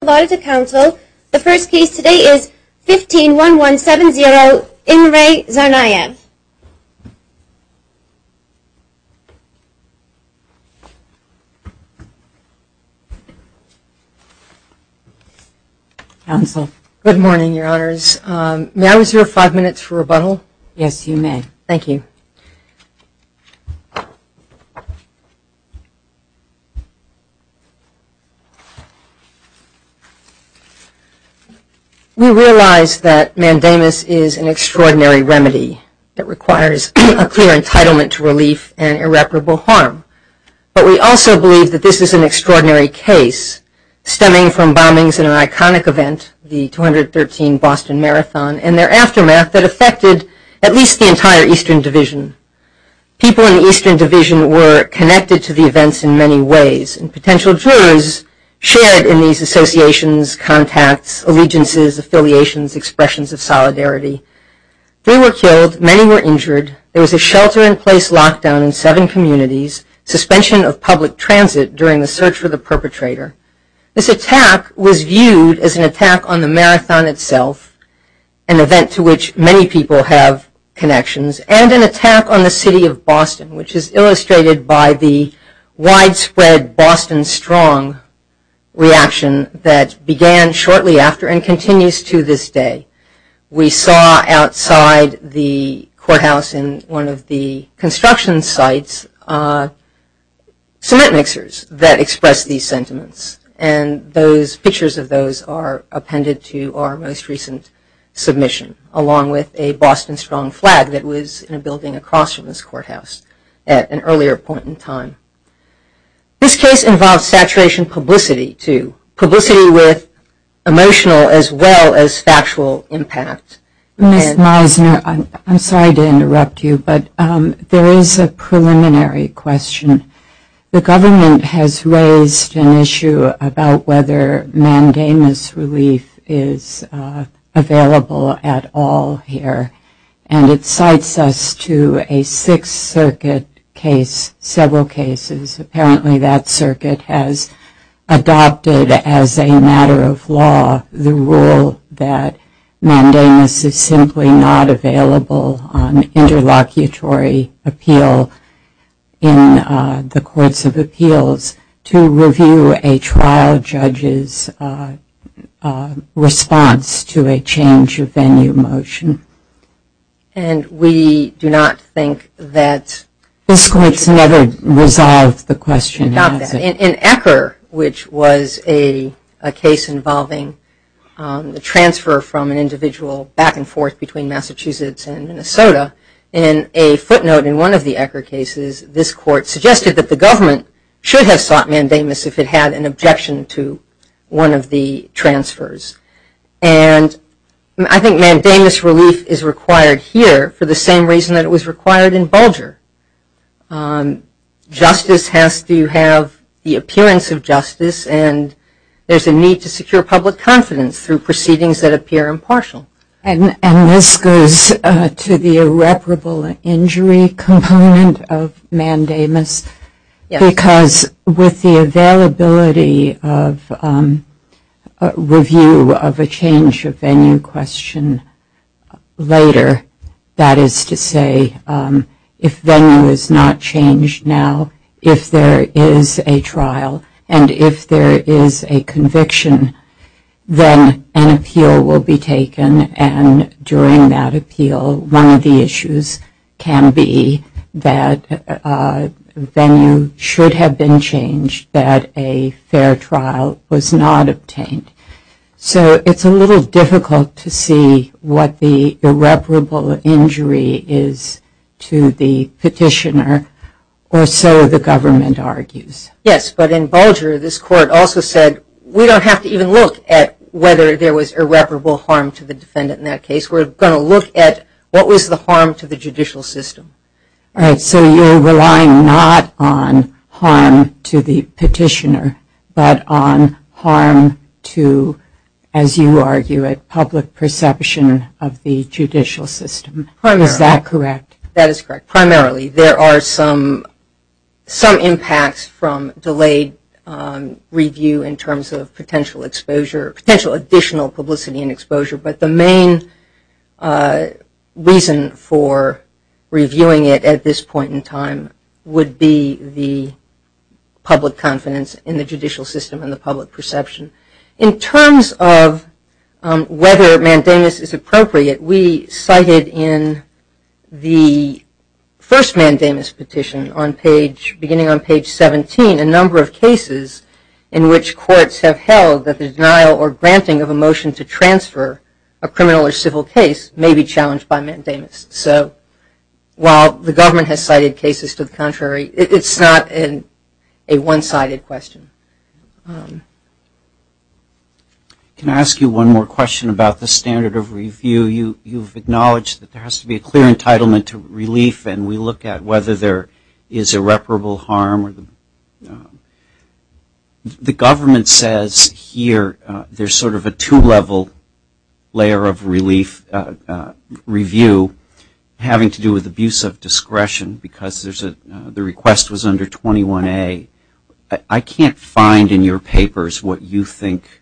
The first case today is 151170, Imre Tsarnaev. Counsel. Good morning, Your Honors. May I reserve five minutes for rebuttal? Yes, you may. Thank you. We realize that mandamus is an extraordinary remedy that requires a clear entitlement to relief and irreparable harm, but we also believe that this is an extraordinary case stemming from bombings and an iconic event, the 213 Boston Marathon, and their aftermath that affected at least the entire Eastern Division. People in the Eastern Division were connected to the events in many ways, and potential jurors shared in these associations, contacts, allegiances, affiliations, expressions of solidarity. Three were killed. Many were injured. There was a shelter-in-place lockdown in seven communities, suspension of public transit during the search for the perpetrator. This attack was viewed as an attack on the marathon itself, an event to which many people have connections, and an attack on the city of Boston, which is illustrated by the widespread Boston Strong reaction that began shortly after and continues to this day. We saw outside the courthouse in one of the construction sites cement mixers that expressed these sentiments, and pictures of those are appended to our most recent submission, along with a Boston Strong flag that was in a building across from this courthouse at an earlier point in time. This case involves saturation publicity, too, publicity with emotional as well as factual impact. Ms. Meisner, I'm sorry to interrupt you, but there is a preliminary question. The government has raised an issue about whether mandamus relief is available at all here, and it cites us to a Sixth Circuit case, several cases. Apparently that circuit has adopted as a matter of law the rule that an interlocutory appeal in the courts of appeals to review a trial judge's response to a change of venue motion. And we do not think that this court's never resolved the question about that. In Ecker, which was a case involving the transfer from an individual back and forth between Massachusetts and Minnesota, in a footnote in one of the Ecker cases, this court suggested that the government should have sought mandamus if it had an objection to one of the transfers. And I think mandamus relief is required here for the same reason that it was required in Bulger. Justice has to have the appearance of justice, and there's a need to secure public confidence through proceedings that And this goes to the irreparable injury component of mandamus, because with the availability of review of a change of venue question later, that is to say if venue is not changed now, if there is a trial, and if there is a conviction, then an appeal will be taken, and during that appeal one of the issues can be that venue should have been changed, that a fair trial was not obtained. So it's a little difficult to see what the irreparable injury is to the petitioner, or so the government argues. Yes, but in Bulger this court also said we don't have to even look at whether there was irreparable harm to the defendant in that case. We're going to look at what was the harm to the judicial system. All right, so you're relying not on harm to the petitioner, but on harm to, as you argue it, public perception of the judicial system. Is that correct? That is correct. Primarily there are some impacts from delayed review in terms of potential exposure, potential additional publicity and exposure, but the main reason for reviewing it at this point in time would be the public confidence in the judicial system and the public perception. In terms of whether mandamus is appropriate, we cited in the first mandamus petition beginning on page 17 a number of cases in which courts have held that the denial or granting of a motion to transfer a criminal or civil case may be challenged by mandamus. So while the government has cited cases to the contrary, it's not a one-sided question. Can I ask you one more question about the standard of review? You've acknowledged that there has to be a clear entitlement to relief, and we look at whether there is irreparable harm. The government says here there's sort of a two-level layer of relief review having to do with abuse of discretion because the request was under 21A. I can't find in your papers whether you think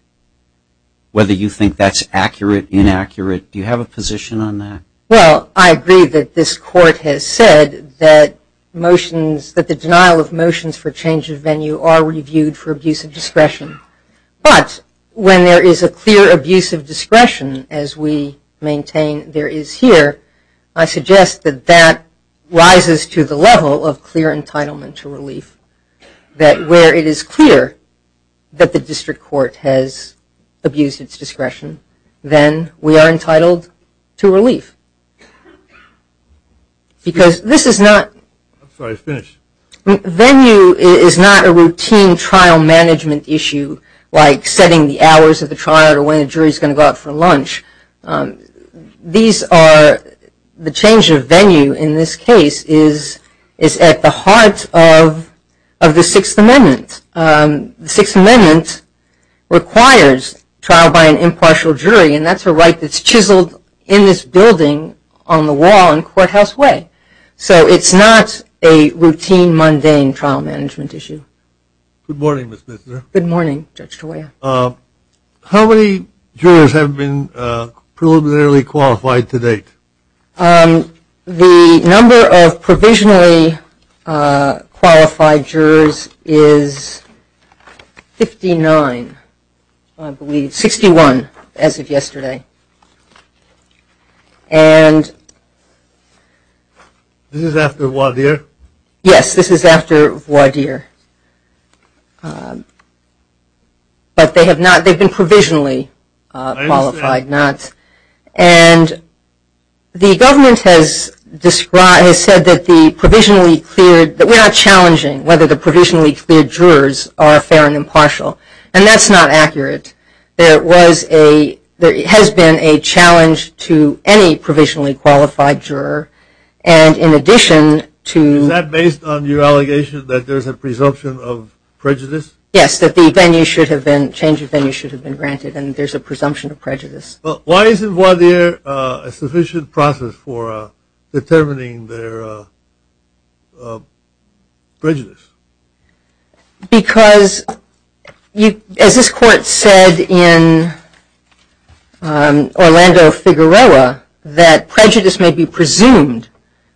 that's accurate, inaccurate. Do you have a position on that? Well, I agree that this court has said that the denial of motions for change of venue are reviewed for abuse of discretion. But when there is a clear abuse of discretion, as we maintain there is here, I suggest that that rises to the level of clear entitlement to relief, that where it is clear that the district court has abused its discretion, then we are entitled to relief because this is not venue is not a routine trial management issue like setting the hours of the trial or when a jury is going to go out for lunch. These are the change of venue in this case is at the heart of the Sixth Amendment. The Sixth Amendment requires trial by an impartial jury, and that's a right that's chiseled in this building on the wall in Courthouse Way. So it's not a routine, mundane trial management issue. Good morning, Ms. Misner. Good morning, Judge Tawaiya. How many jurors have been preliminarily qualified to date? The number of provisionally qualified jurors is 59, I believe, 61 as of yesterday. This is after Waudeer? Yes, this is after Waudeer, but they've been provisionally qualified. And the government has said that we're not challenging whether the provisionally cleared jurors are fair and impartial, and that's not accurate. There has been a challenge to any provisionally qualified juror, and in addition to – Is that based on your allegation that there's a presumption of prejudice? Yes, that the venue should have been – change of venue should have been granted and there's a presumption of prejudice. Why isn't Waudeer a sufficient process for determining their prejudice? Because, as this court said in Orlando Figueroa, that prejudice may be presumed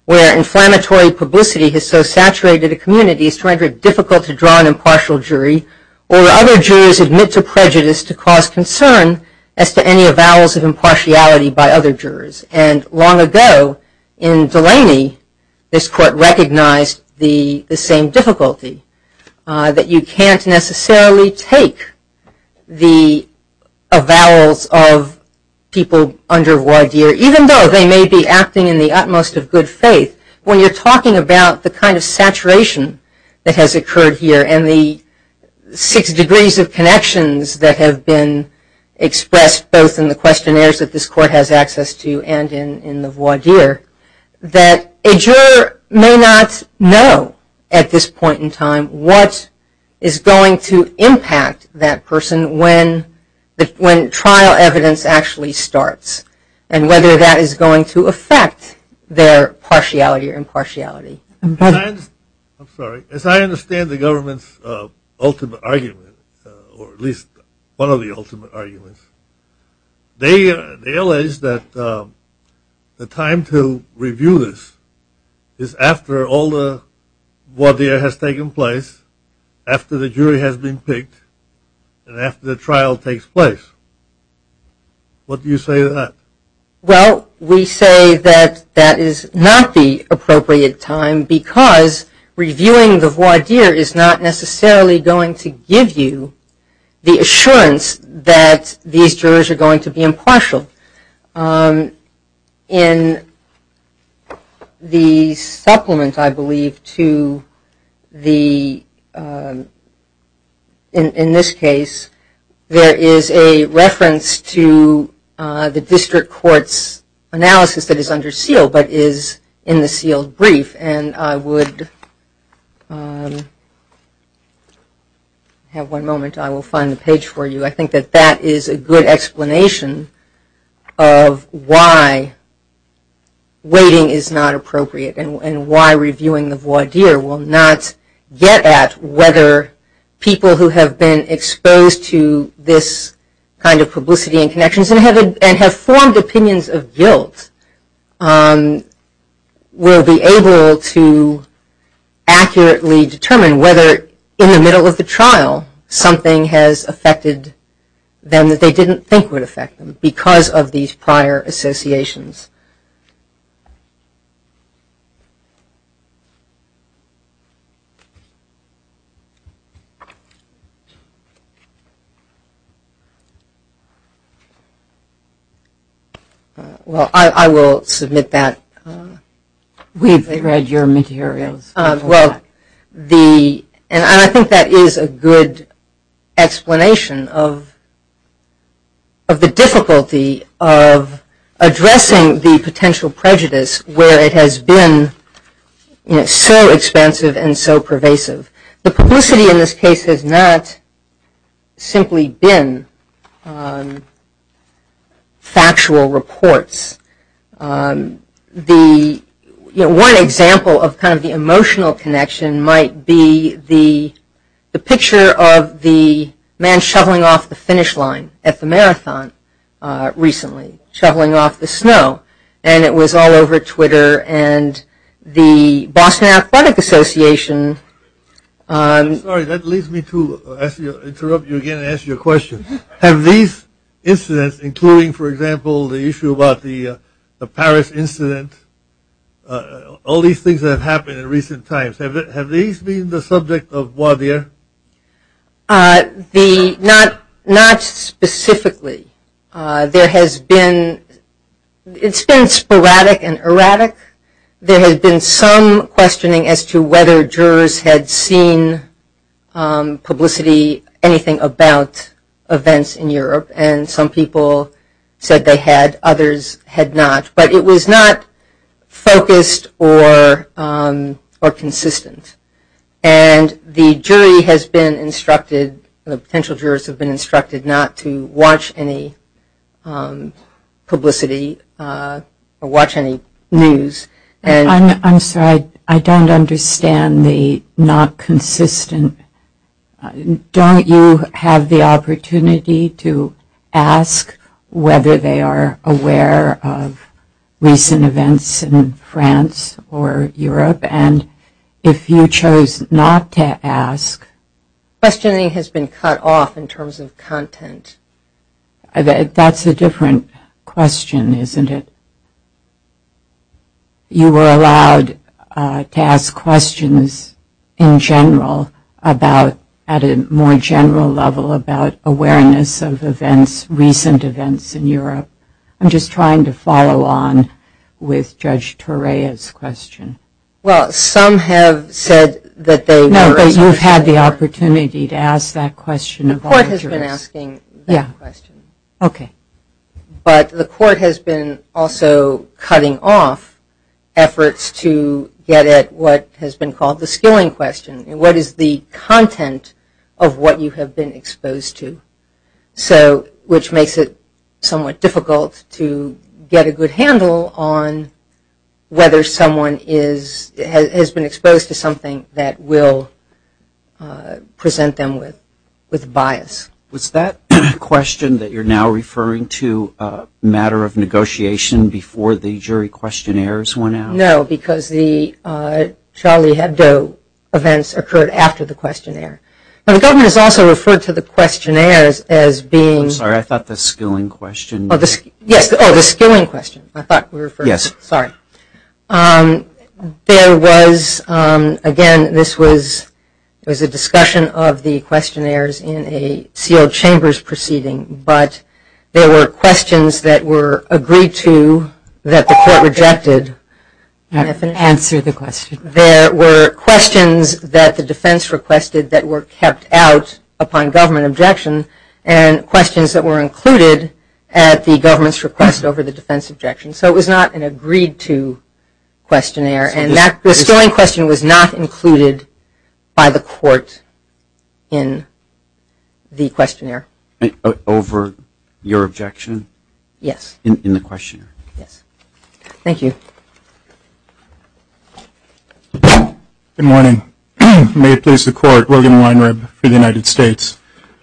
where inflammatory publicity has so saturated a community it's too difficult to draw an impartial jury or other jurors admit to prejudice to cause concern as to any avowals of impartiality by other jurors. And long ago, in Delaney, this court recognized the same difficulty, that you can't necessarily take the avowals of people under Waudeer, even though they may be acting in the utmost of good faith. When you're talking about the kind of saturation that has occurred here and the six degrees of connections that have been expressed both in the questionnaires that this court has access to and in the Waudeer, that a juror may not know at this point in time what is going to impact that person when trial evidence actually starts and whether that is going to affect their partiality or impartiality. I'm sorry, as I understand the government's ultimate argument, or at least one of the ultimate arguments, they allege that the time to review this is after all the Waudeer has taken place, after the jury has been picked, and after the trial takes place. What do you say to that? Well, we say that that is not the appropriate time because reviewing the Waudeer is not necessarily going to give you the assurance that these jurors are going to be impartial. In the supplement, I believe, to the, in this case, there is a reference to the district court's analysis that is under seal, but is in the sealed brief, and I would have one moment. I will find the page for you. I think that that is a good explanation of why waiting is not appropriate and why reviewing the Waudeer will not get at whether people and have formed opinions of guilt will be able to accurately determine whether in the middle of the trial something has affected them that they didn't think would affect them because of these prior associations. Well, I will submit that. We've read your materials. Well, the, and I think that is a good explanation of the difficulty of addressing the potential prejudice where it has been so expansive and so pervasive. The publicity in this case has not simply been factual reports. The, you know, one example of kind of the emotional connection might be the picture of the man shoveling off the finish line at the marathon recently, shoveling off the snow, and it was all over Twitter, and the Boston Athletic Association. Sorry, that leads me to interrupt you again and ask you a question. Have these incidents, including, for example, the issue about the Paris incident, all these things that have happened in recent times, have these been the subject of Waudeer? The, not specifically. There has been, it's been sporadic and erratic. There has been some questioning as to whether jurors had seen publicity, anything about events in Europe, and some people said they had, others had not. But it was not focused or consistent. And the jury has been instructed, the potential jurors have been instructed not to watch any publicity or watch any news. I'm sorry, I don't understand the not consistent. Don't you have the opportunity to ask whether they are aware of recent events in France or Europe? And if you chose not to ask. Questioning has been cut off in terms of content. That's a different question, isn't it? You were allowed to ask questions in general about, at a more general level, I'm just trying to follow on with Judge Torreya's question. Well, some have said that they were. No, but you've had the opportunity to ask that question of all the jurors. The court has been asking that question. Yeah, okay. But the court has been also cutting off efforts to get at what has been called the skilling question. What is the content of what you have been exposed to? Which makes it somewhat difficult to get a good handle on whether someone has been exposed to something that will present them with bias. Was that question that you're now referring to a matter of negotiation before the jury questionnaires went out? No, because the Charlie Hebdo events occurred after the questionnaire. Now, the government has also referred to the questionnaires as being. I'm sorry, I thought the skilling question. Yes, oh, the skilling question. I thought we were referring. Yes. Sorry. There was, again, this was a discussion of the questionnaires in a sealed chambers proceeding. But there were questions that were agreed to that the court rejected. Answer the question. There were questions that the defense requested that were kept out upon government objection and questions that were included at the government's request over the defense objection. So it was not an agreed to questionnaire. And that skilling question was not included by the court in the questionnaire. Over your objection? Yes. In the questionnaire? Yes. Thank you. Good morning. May it please the court, Logan Weinreb for the United States.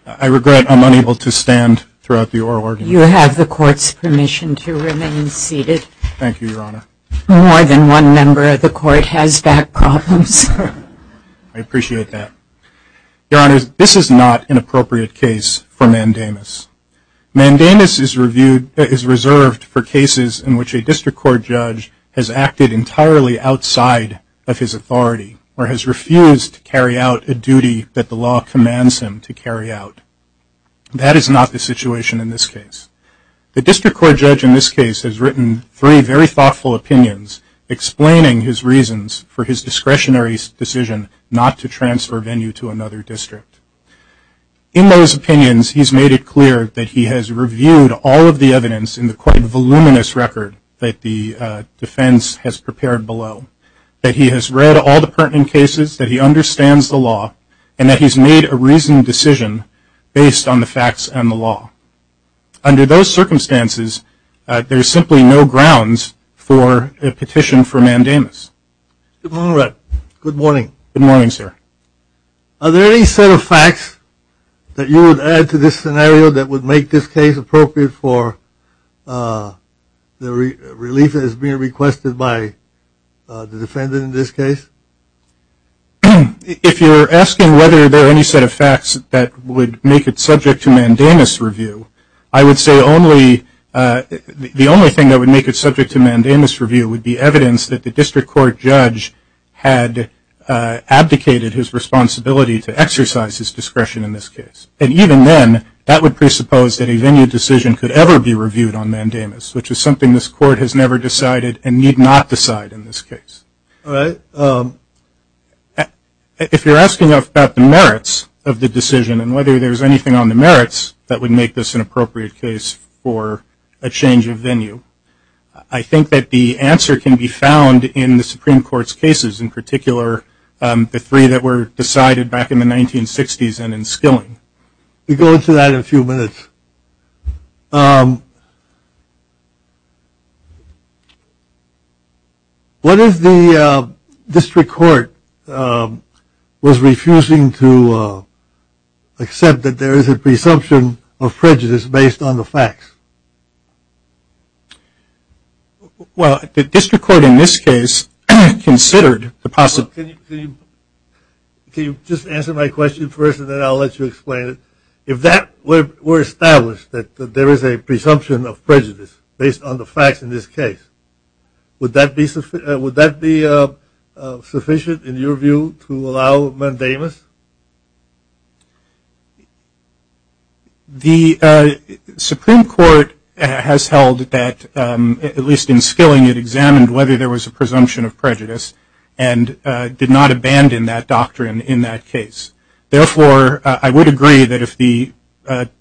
I regret I'm unable to stand throughout the oral argument. You have the court's permission to remain seated. Thank you, Your Honor. More than one member of the court has back problems. I appreciate that. Your Honors, this is not an appropriate case for mandamus. Mandamus is reserved for cases in which a district court judge has acted entirely outside of his authority or has refused to carry out a duty that the law commands him to carry out. That is not the situation in this case. The district court judge in this case has written three very thoughtful opinions explaining his reasons for his discretionary decision not to transfer Venue to another district. In those opinions, he's made it clear that he has reviewed all of the evidence in the quite voluminous record that the defense has prepared below, that he has read all the pertinent cases, that he understands the law, and that he's made a reasoned decision based on the facts and the law. Under those circumstances, there's simply no grounds for a petition for mandamus. Good morning. Good morning, sir. Are there any set of facts that you would add to this scenario that would make this case appropriate for the relief that is being requested by the defendant in this case? If you're asking whether there are any set of facts that would make it subject to mandamus review, I would say the only thing that would make it subject to mandamus review would be evidence that the district court judge had abdicated his responsibility to exercise his discretion in this case. And even then, that would presuppose that a Venue decision could ever be reviewed on mandamus, which is something this court has never decided and need not decide in this case. If you're asking about the merits of the decision and whether there's anything on the merits that would make this an appropriate case for a change of Venue, I think that the answer can be found in the Supreme Court's cases, in particular the three that were decided back in the 1960s and in Skilling. We'll go into that in a few minutes. What if the district court was refusing to accept that there is a presumption of prejudice based on the facts? Well, the district court in this case considered the possibility. Can you just answer my question first and then I'll let you explain it? If that were established, that there is a presumption of prejudice based on the facts in this case, would that be sufficient in your view to allow mandamus? The Supreme Court has held that, at least in Skilling, it examined whether there was a presumption of prejudice and did not abandon that doctrine in that case. Therefore, I would agree that if the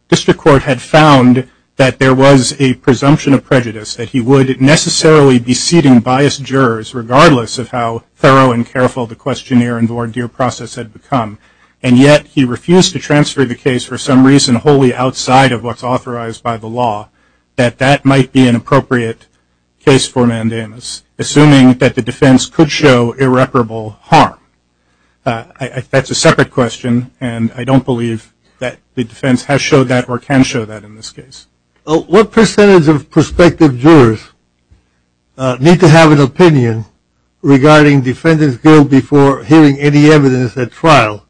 district court had found that there was a presumption of prejudice, that he would necessarily be seating biased jurors, regardless of how thorough and careful the questionnaire and voir dire process had become, and yet he refused to transfer the case for some reason wholly outside of what's authorized by the law, that that might be an appropriate case for mandamus, assuming that the defense could show irreparable harm. That's a separate question, and I don't believe that the defense has showed that or can show that in this case. What percentage of prospective jurors need to have an opinion regarding Defendant's Guild before hearing any evidence at trial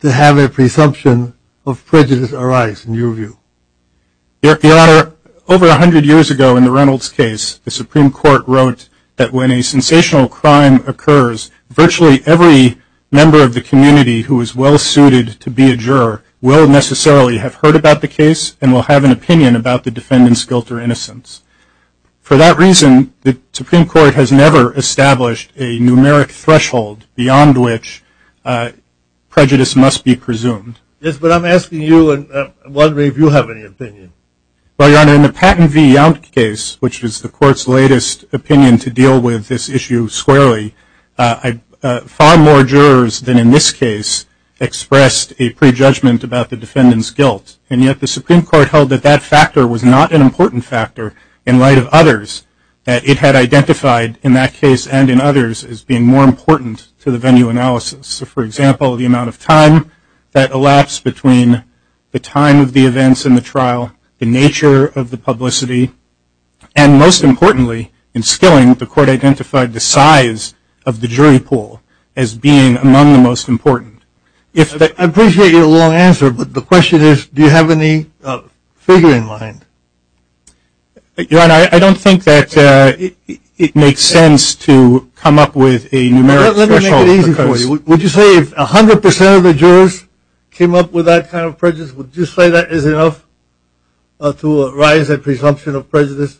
to have a presumption of prejudice arise in your view? Your Honor, over 100 years ago in the Reynolds case, the Supreme Court wrote that when a sensational crime occurs, virtually every member of the community who is well-suited to be a juror will necessarily have heard about the case and will have an opinion about the defendant's guilt or innocence. For that reason, the Supreme Court has never established a numeric threshold beyond which prejudice must be presumed. Yes, but I'm asking you and wondering if you have any opinion. Well, Your Honor, in the Patton v. Yount case, which is the Court's latest opinion to deal with this issue squarely, far more jurors than in this case expressed a prejudgment about the defendant's guilt, and yet the Supreme Court held that that factor was not an important factor in light of others, that it had identified in that case and in others as being more important to the venue analysis. So, for example, the amount of time that elapsed between the time of the events in the trial, the nature of the publicity, and most importantly, in Skilling, the Court identified the size of the jury pool as being among the most important. I appreciate your long answer, but the question is, do you have any figure in mind? Your Honor, I don't think that it makes sense to come up with a numeric threshold. I'll make it easy for you. Would you say if 100% of the jurors came up with that kind of prejudice, would you say that is enough to arise a presumption of prejudice?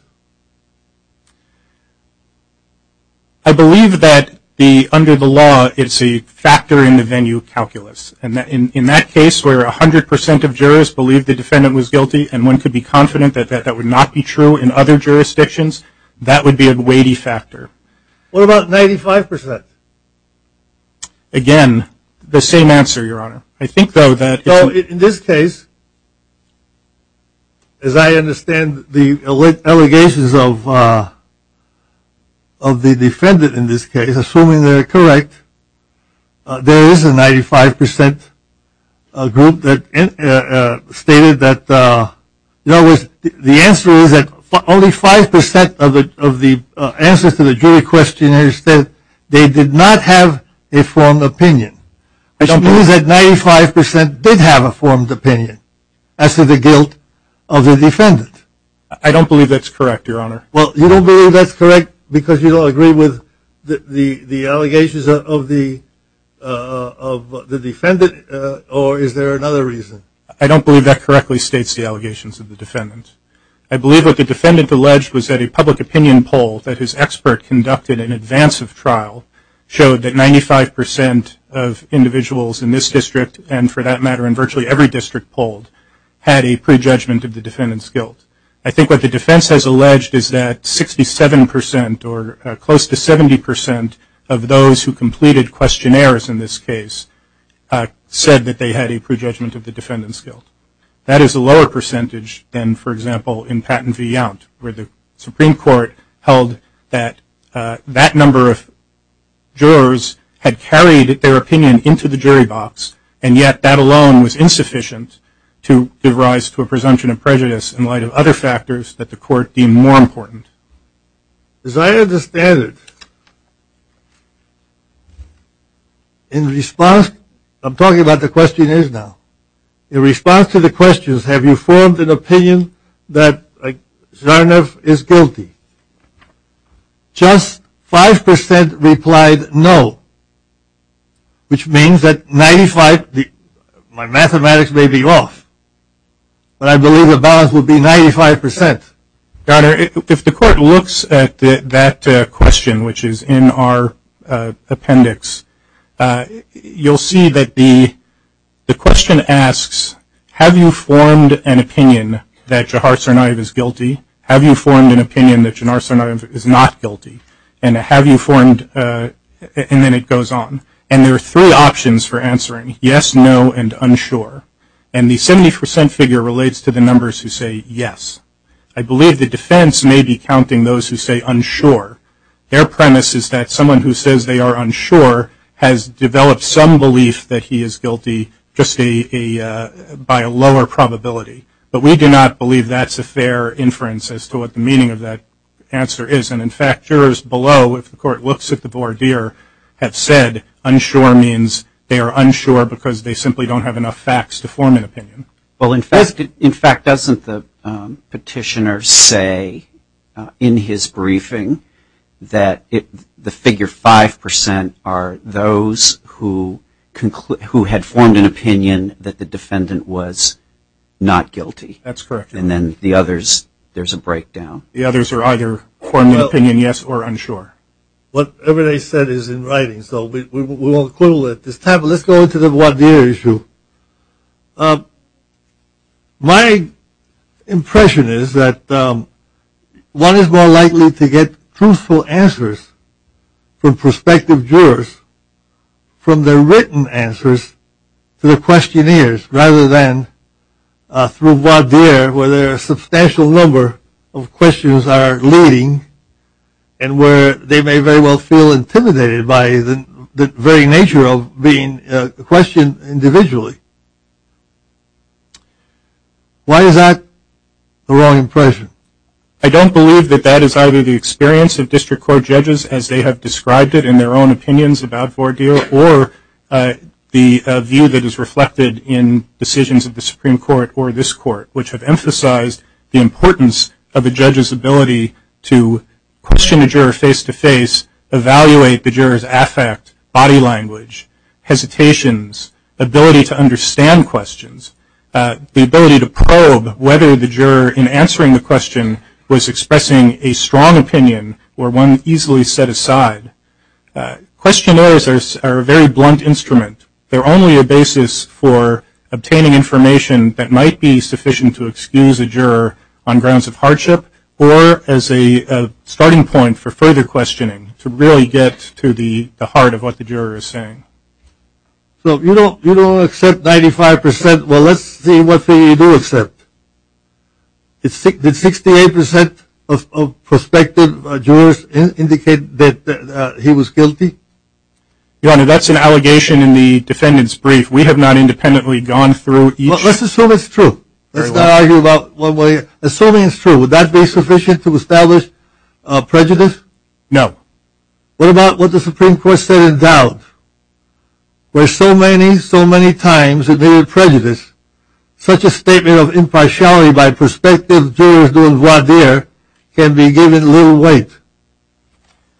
I believe that under the law it's a factor in the venue calculus. In that case where 100% of jurors believed the defendant was guilty and one could be confident that that would not be true in other jurisdictions, that would be a weighty factor. What about 95%? Again, the same answer, Your Honor. I think, though, that in this case, as I understand the allegations of the defendant in this case, assuming they're correct, there is a 95% group that stated that, in other words, the answer is that only 5% of the answers to the jury question is that they did not have a formed opinion. I believe that 95% did have a formed opinion as to the guilt of the defendant. I don't believe that's correct, Your Honor. Well, you don't believe that's correct because you don't agree with the allegations of the defendant, or is there another reason? I don't believe that correctly states the allegations of the defendant. I believe what the defendant alleged was that a public opinion poll that his expert conducted in advance of trial showed that 95% of individuals in this district, and for that matter in virtually every district polled, had a prejudgment of the defendant's guilt. I think what the defense has alleged is that 67% or close to 70% of those who completed questionnaires in this case said that they had a prejudgment of the defendant's guilt. That is a lower percentage than, for example, in Patton v. Yount, where the Supreme Court held that that number of jurors had carried their opinion into the jury box, and yet that alone was insufficient to give rise to a presumption of prejudice in light of other factors that the court deemed more important. As I understand it, in response, I'm talking about the questionnaires now. In response to the questions, have you formed an opinion that Zharnov is guilty? Just 5% replied no, which means that 95, my mathematics may be off, but I believe the balance would be 95%. Donner, if the court looks at that question, which is in our appendix, you'll see that the question asks, have you formed an opinion that Zharnov is guilty? Have you formed an opinion that Zharnov is not guilty? And then it goes on. And there are three options for answering, yes, no, and unsure. And the 70% figure relates to the numbers who say yes. I believe the defense may be counting those who say unsure. Their premise is that someone who says they are unsure has developed some belief that he is guilty, just by a lower probability. But we do not believe that's a fair inference as to what the meaning of that answer is. And, in fact, jurors below, if the court looks at the voir dire, have said unsure means they are unsure because they simply don't have enough facts to form an opinion. Well, in fact, doesn't the petitioner say in his briefing that the figure 5% are those who had formed an opinion that the defendant was not guilty? That's correct. And then the others, there's a breakdown. The others are either forming an opinion yes or unsure. Whatever they said is in writing, so we won't quibble at this time. But let's go into the voir dire issue. My impression is that one is more likely to get truthful answers from prospective jurors from their written answers to the questionnaires rather than through voir dire, where there are a substantial number of questions are leading and where they may very well feel intimidated by the very nature of being questioned individually. Why is that the wrong impression? I don't believe that that is either the experience of district court judges, as they have described it in their own opinions about voir dire, or the view that is reflected in decisions of the Supreme Court or this court, which have emphasized the importance of a judge's ability to question a juror face-to-face, evaluate the juror's affect, body language, hesitations, ability to understand questions, the ability to probe whether the juror in answering the question was expressing a strong opinion or one easily set aside. Questionnaires are a very blunt instrument. They're only a basis for obtaining information that might be sufficient to excuse a juror on grounds of hardship or as a starting point for further questioning to really get to the heart of what the juror is saying. So you don't accept 95%? Well, let's see what you do accept. Did 68% of prospective jurors indicate that he was guilty? Your Honor, that's an allegation in the defendant's brief. We have not independently gone through each. Well, let's assume it's true. Let's not argue about one way. Assuming it's true, would that be sufficient to establish prejudice? No. What about what the Supreme Court said in doubt? Where so many, so many times admitted prejudice, such a statement of impartiality by prospective jurors doing voir dire can be given little weight.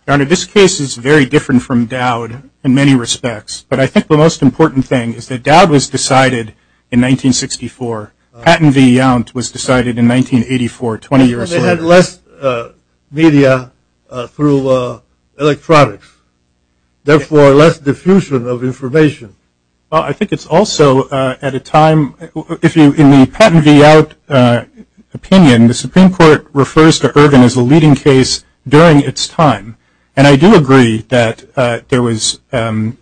Your Honor, this case is very different from Dowd in many respects, but I think the most important thing is that Dowd was decided in 1964. Patton v. Yount was decided in 1984, 20 years later. They had less media through electronics, therefore less diffusion of information. I think it's also at a time, if you, in the Patton v. Yount opinion, the Supreme Court refers to Ervin as a leading case during its time, and I do agree that there was, the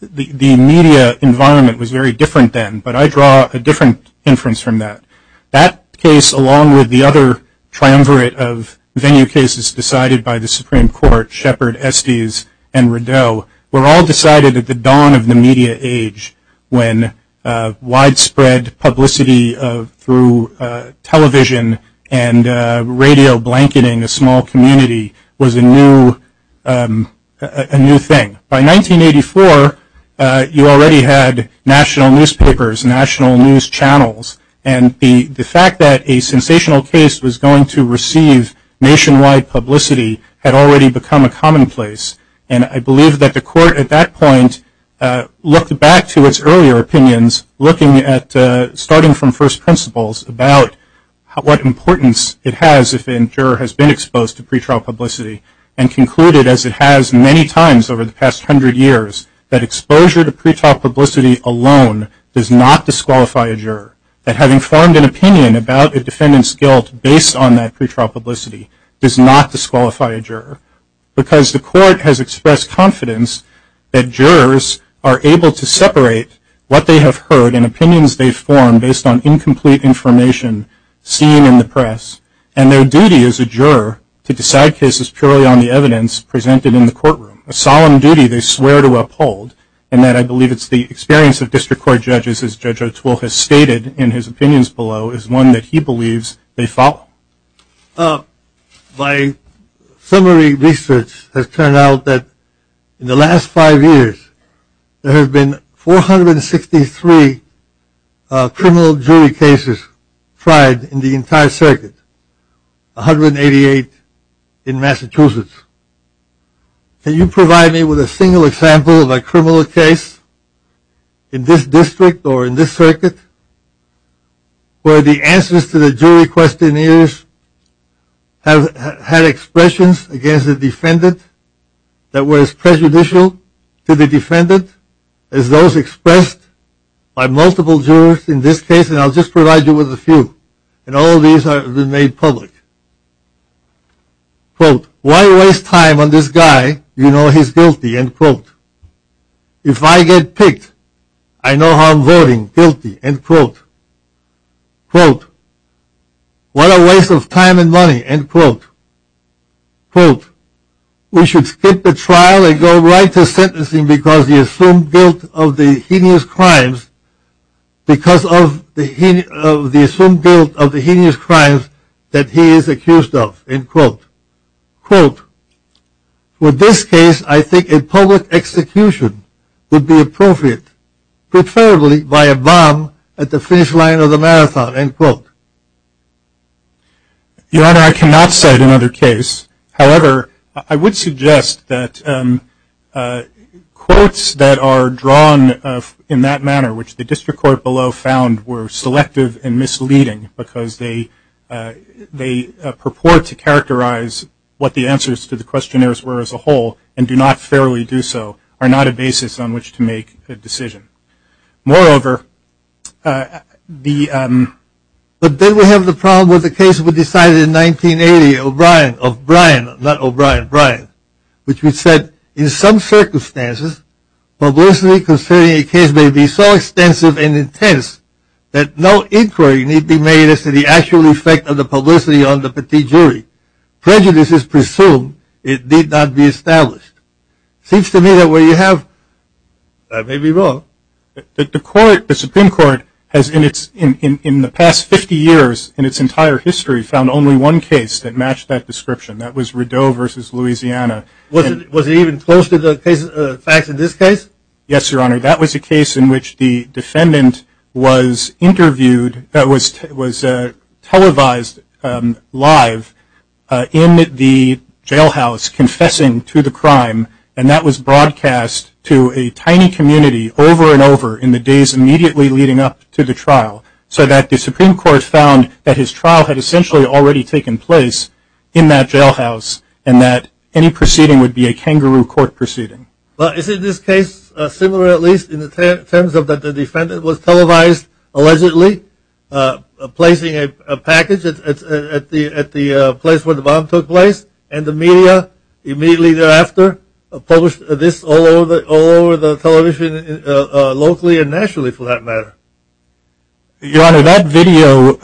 media environment was very different then, but I draw a different inference from that. That case, along with the other triumvirate of venue cases decided by the Supreme Court, Shepard, Estes, and Rideau, were all decided at the dawn of the media age when widespread publicity through television and radio blanketing a small community was a new thing. By 1984, you already had national newspapers, national news channels, and the fact that a sensational case was going to receive nationwide publicity had already become a commonplace, and I believe that the court at that point looked back to its earlier opinions, looking at, starting from first principles, about what importance it has if a juror has been exposed to pretrial publicity and concluded, as it has many times over the past hundred years, that exposure to pretrial publicity alone does not disqualify a juror, that having formed an opinion about a defendant's guilt based on that pretrial publicity does not disqualify a juror, because the court has expressed confidence that jurors are able to separate what they have heard and opinions they've formed based on incomplete information seen in the press, and their duty as a juror to decide cases purely on the evidence presented in the courtroom, a solemn duty they swear to uphold, and that I believe it's the experience of district court judges, as Judge O'Toole has stated in his opinions below, is one that he believes they follow. My summary research has turned out that in the last five years, there have been 463 criminal jury cases tried in the entire circuit, 188 in Massachusetts. Can you provide me with a single example of a criminal case in this district or in this circuit where the answers to the jury questionnaires have had expressions against the defendant that were as prejudicial to the defendant as those expressed by multiple jurors in this case, and I'll just provide you with a few, and all of these have been made public. Quote, why waste time on this guy, you know he's guilty, end quote. If I get picked, I know how I'm voting, guilty, end quote. Quote, what a waste of time and money, end quote. Quote, we should skip the trial and go right to sentencing because of the assumed guilt of the heinous crimes that he is accused of, end quote. Quote, with this case, I think a public execution would be appropriate, preferably by a bomb at the finish line of the marathon, end quote. Your Honor, I cannot cite another case. However, I would suggest that quotes that are drawn in that manner, which the district court below found were selective and misleading because they purport to characterize what the answers to the questionnaires were as a whole and do not fairly do so, are not a basis on which to make a decision. Moreover, the, but then we have the problem with the case we decided in 1980, O'Brien, of Brian, not O'Brien, Brian, which we said, in some circumstances, publicity concerning a case may be so extensive and intense that no inquiry need be made as to the actual effect of the publicity on the petit jury. Prejudice is presumed. It need not be established. Seems to me that where you have, I may be wrong, that the court, the Supreme Court has in its, in the past 50 years, in its entire history found only one case that matched that description. That was Rideau versus Louisiana. Was it even close to the facts in this case? Yes, Your Honor. That was a case in which the defendant was interviewed, was televised live in the jailhouse confessing to the crime, and that was broadcast to a tiny community over and over in the days immediately leading up to the trial, so that the Supreme Court found that his trial had essentially already taken place in that jailhouse and that any proceeding would be a kangaroo court proceeding. Well, is it this case similar at least in terms of that the defendant was televised allegedly, placing a package at the place where the bomb took place, and the media immediately thereafter published this all over the television locally and nationally for that matter? Your Honor, that video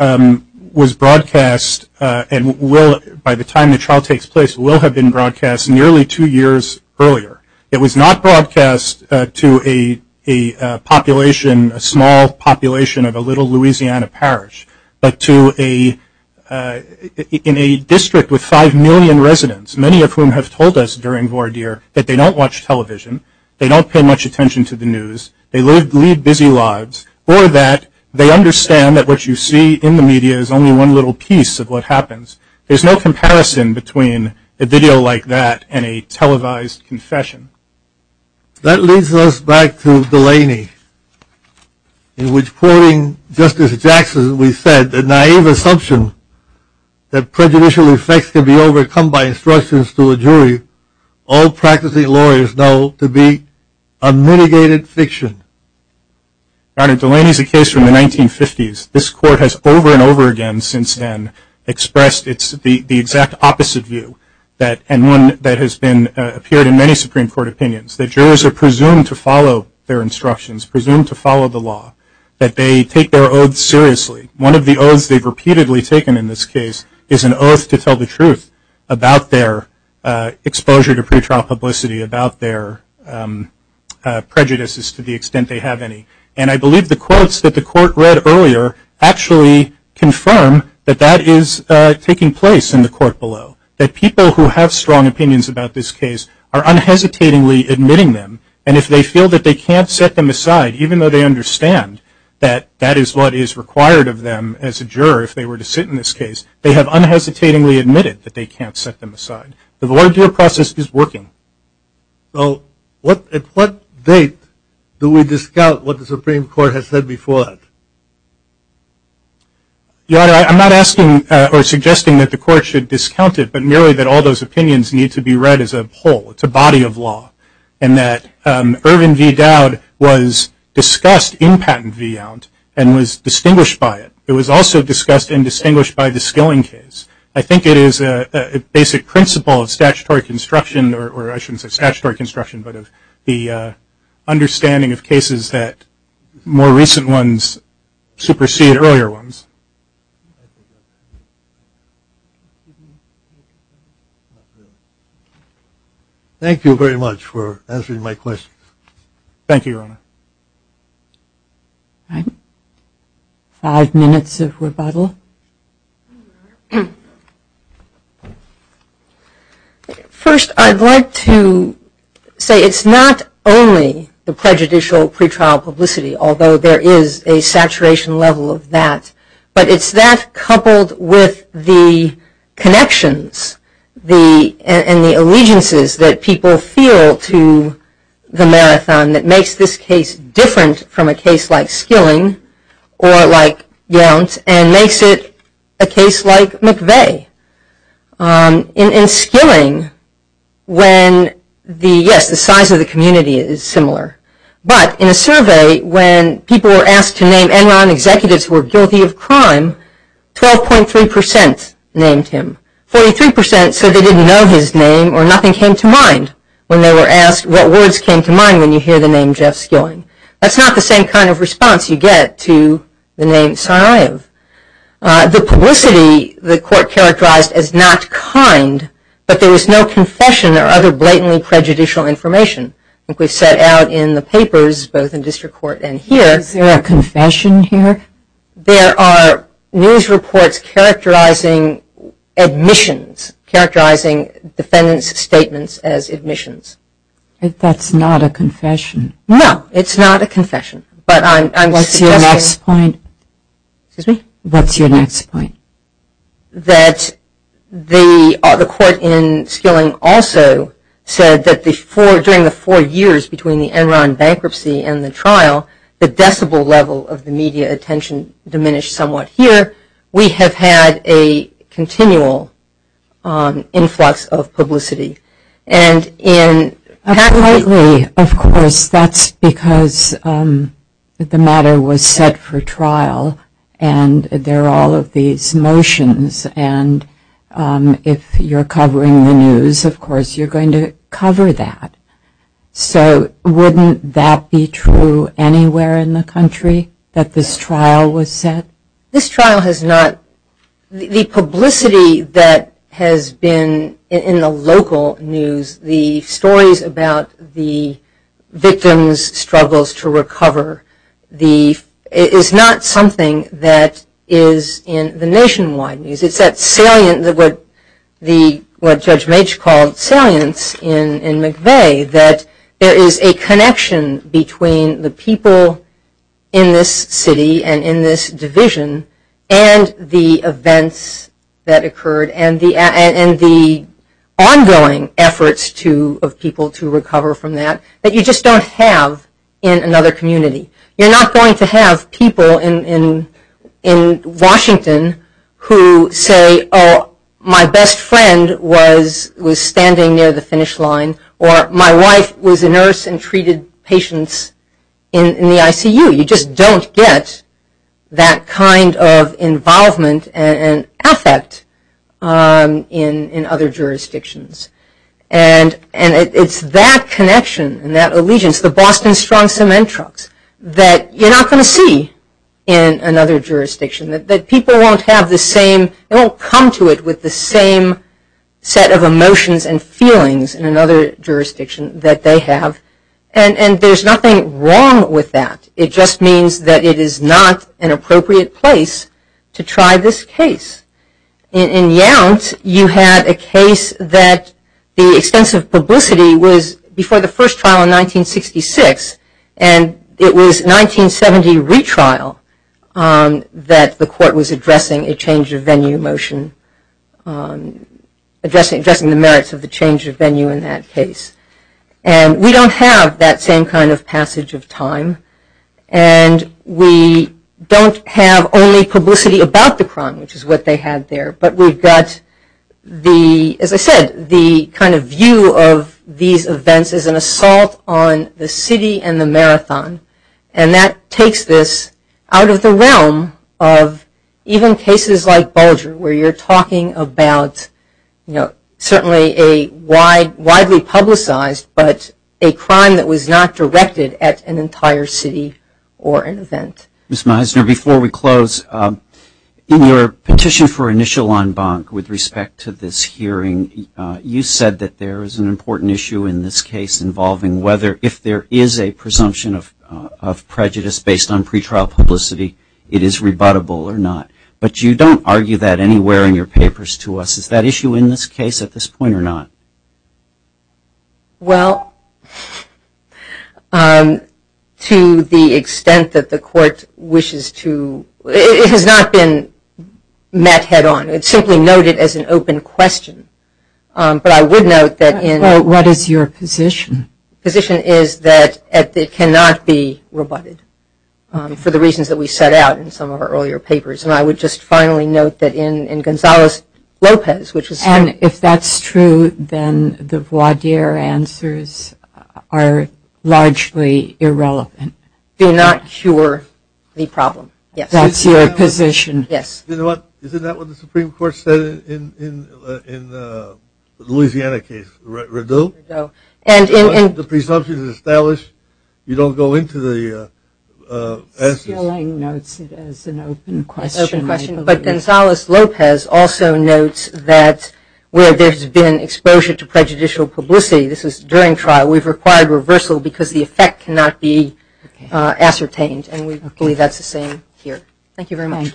was broadcast and will, by the time the trial takes place, will have been broadcast nearly two years earlier. It was not broadcast to a population, a small population of a little Louisiana parish, but to a district with five million residents, many of whom have told us during voir dire that they don't watch television, they don't pay much attention to the news, they lead busy lives, or that they understand that what you see in the media is only one little piece of what happens. There's no comparison between a video like that and a televised confession. That leads us back to Delaney, in which, quoting Justice Jackson, we said, the naive assumption that prejudicial effects can be overcome by instructions to a jury, all practicing lawyers know to be a mitigated fiction. Your Honor, Delaney is a case from the 1950s. This Court has over and over again since then expressed the exact opposite view, and one that has appeared in many Supreme Court opinions, that jurors are presumed to follow their instructions, presumed to follow the law, that they take their oaths seriously. One of the oaths they've repeatedly taken in this case is an oath to tell the truth about their exposure to pretrial publicity, about their prejudices to the extent they have any. And I believe the quotes that the Court read earlier actually confirm that that is taking place in the Court below, that people who have strong opinions about this case are unhesitatingly admitting them, and if they feel that they can't set them aside, even though they understand that that is what is required of them as a juror if they were to sit in this case, they have unhesitatingly admitted that they can't set them aside. The voir dire process is working. Well, at what date do we discount what the Supreme Court has said before that? Your Honor, I'm not asking or suggesting that the Court should discount it, but merely that all those opinions need to be read as a whole, it's a body of law, and that Irvin v. Dowd was discussed in Patent v. Yount and was distinguished by it. It was also discussed and distinguished by the Skilling case. I think it is a basic principle of statutory construction, or I shouldn't say statutory construction, but of the understanding of cases that more recent ones supersede earlier ones. Thank you very much for answering my questions. Thank you, Your Honor. Five minutes of rebuttal. First, I'd like to say it's not only the prejudicial pretrial publicity, although there is a saturation level of that, but it's that coupled with the connections and the allegiances that people feel to the marathon that makes this case different from a case like Skilling or like Yount and makes it a case like McVeigh. In Skilling, when the, yes, the size of the community is similar, but in a survey, when people were asked to name Enron executives who were guilty of crime, 12.3% named him, 43% said they didn't know his name or nothing came to mind when they were asked what words came to mind when you hear the name Jeff Skilling. That's not the same kind of response you get to the name Sarayev. The publicity the court characterized as not kind, but there was no confession or other blatantly prejudicial information. Like we've said out in the papers, both in district court and here. Is there a confession here? There are news reports characterizing admissions, characterizing defendant's statements as admissions. That's not a confession. No, it's not a confession, but I'm suggesting. What's your next point? Excuse me? What's your next point? That the court in Skilling also said that during the four years between the Enron bankruptcy and the trial, the decibel level of the media attention diminished somewhat here. We have had a continual influx of publicity. Appropriately, of course, that's because the matter was set for trial and there are all of these motions and if you're covering the news, of course, you're going to cover that. So wouldn't that be true anywhere in the country that this trial was set? This trial has not. The publicity that has been in the local news, the stories about the victims' struggles to recover, is not something that is in the nationwide news. It's that salient, what Judge Mage called salience in McVeigh, that there is a connection between the people in this city and in this division and the events that occurred and the ongoing efforts of people to recover from that that you just don't have in another community. You're not going to have people in Washington who say, oh, my best friend was standing near the finish line or my wife was a nurse and treated patients in the ICU. You just don't get that kind of involvement and affect in other jurisdictions. And it's that connection and that allegiance, the Boston Strong Cement Trucks, that you're not going to see in another jurisdiction. That people won't have the same, they won't come to it with the same set of emotions and feelings in another jurisdiction that they have. And there's nothing wrong with that. It just means that it is not an appropriate place to try this case. In Yount, you had a case that the extensive publicity was before the first trial in 1966 and it was 1970 retrial that the court was addressing a change of venue motion, addressing the merits of the change of venue in that case. And we don't have that same kind of passage of time and we don't have only publicity about the crime, which is what they had there, but we've got, as I said, the kind of view of these events as an assault on the city and the marathon. And that takes this out of the realm of even cases like Bulger, where you're talking about certainly a widely publicized, but a crime that was not directed at an entire city or an event. Ms. Meisner, before we close, in your petition for initial en banc with respect to this hearing, you said that there is an important issue in this case involving whether, if there is a presumption of prejudice based on pretrial publicity, it is rebuttable or not. But you don't argue that anywhere in your papers to us. Is that issue in this case at this point or not? Well, to the extent that the court wishes to, it has not been met head on. It's simply noted as an open question. But I would note that in- What is your position? My position is that it cannot be rebutted for the reasons that we set out in some of our earlier papers. And I would just finally note that in Gonzales-Lopez, which was- And if that's true, then the voir dire answers are largely irrelevant. Do not cure the problem. That's your position. Yes. You know what? Isn't that what the Supreme Court said in the Louisiana case? The presumption is established. You don't go into the- It's an open question. But Gonzales-Lopez also notes that where there's been exposure to prejudicial publicity, this is during trial, we've required reversal because the effect cannot be ascertained. And we believe that's the same here. Thank you very much. Thank you.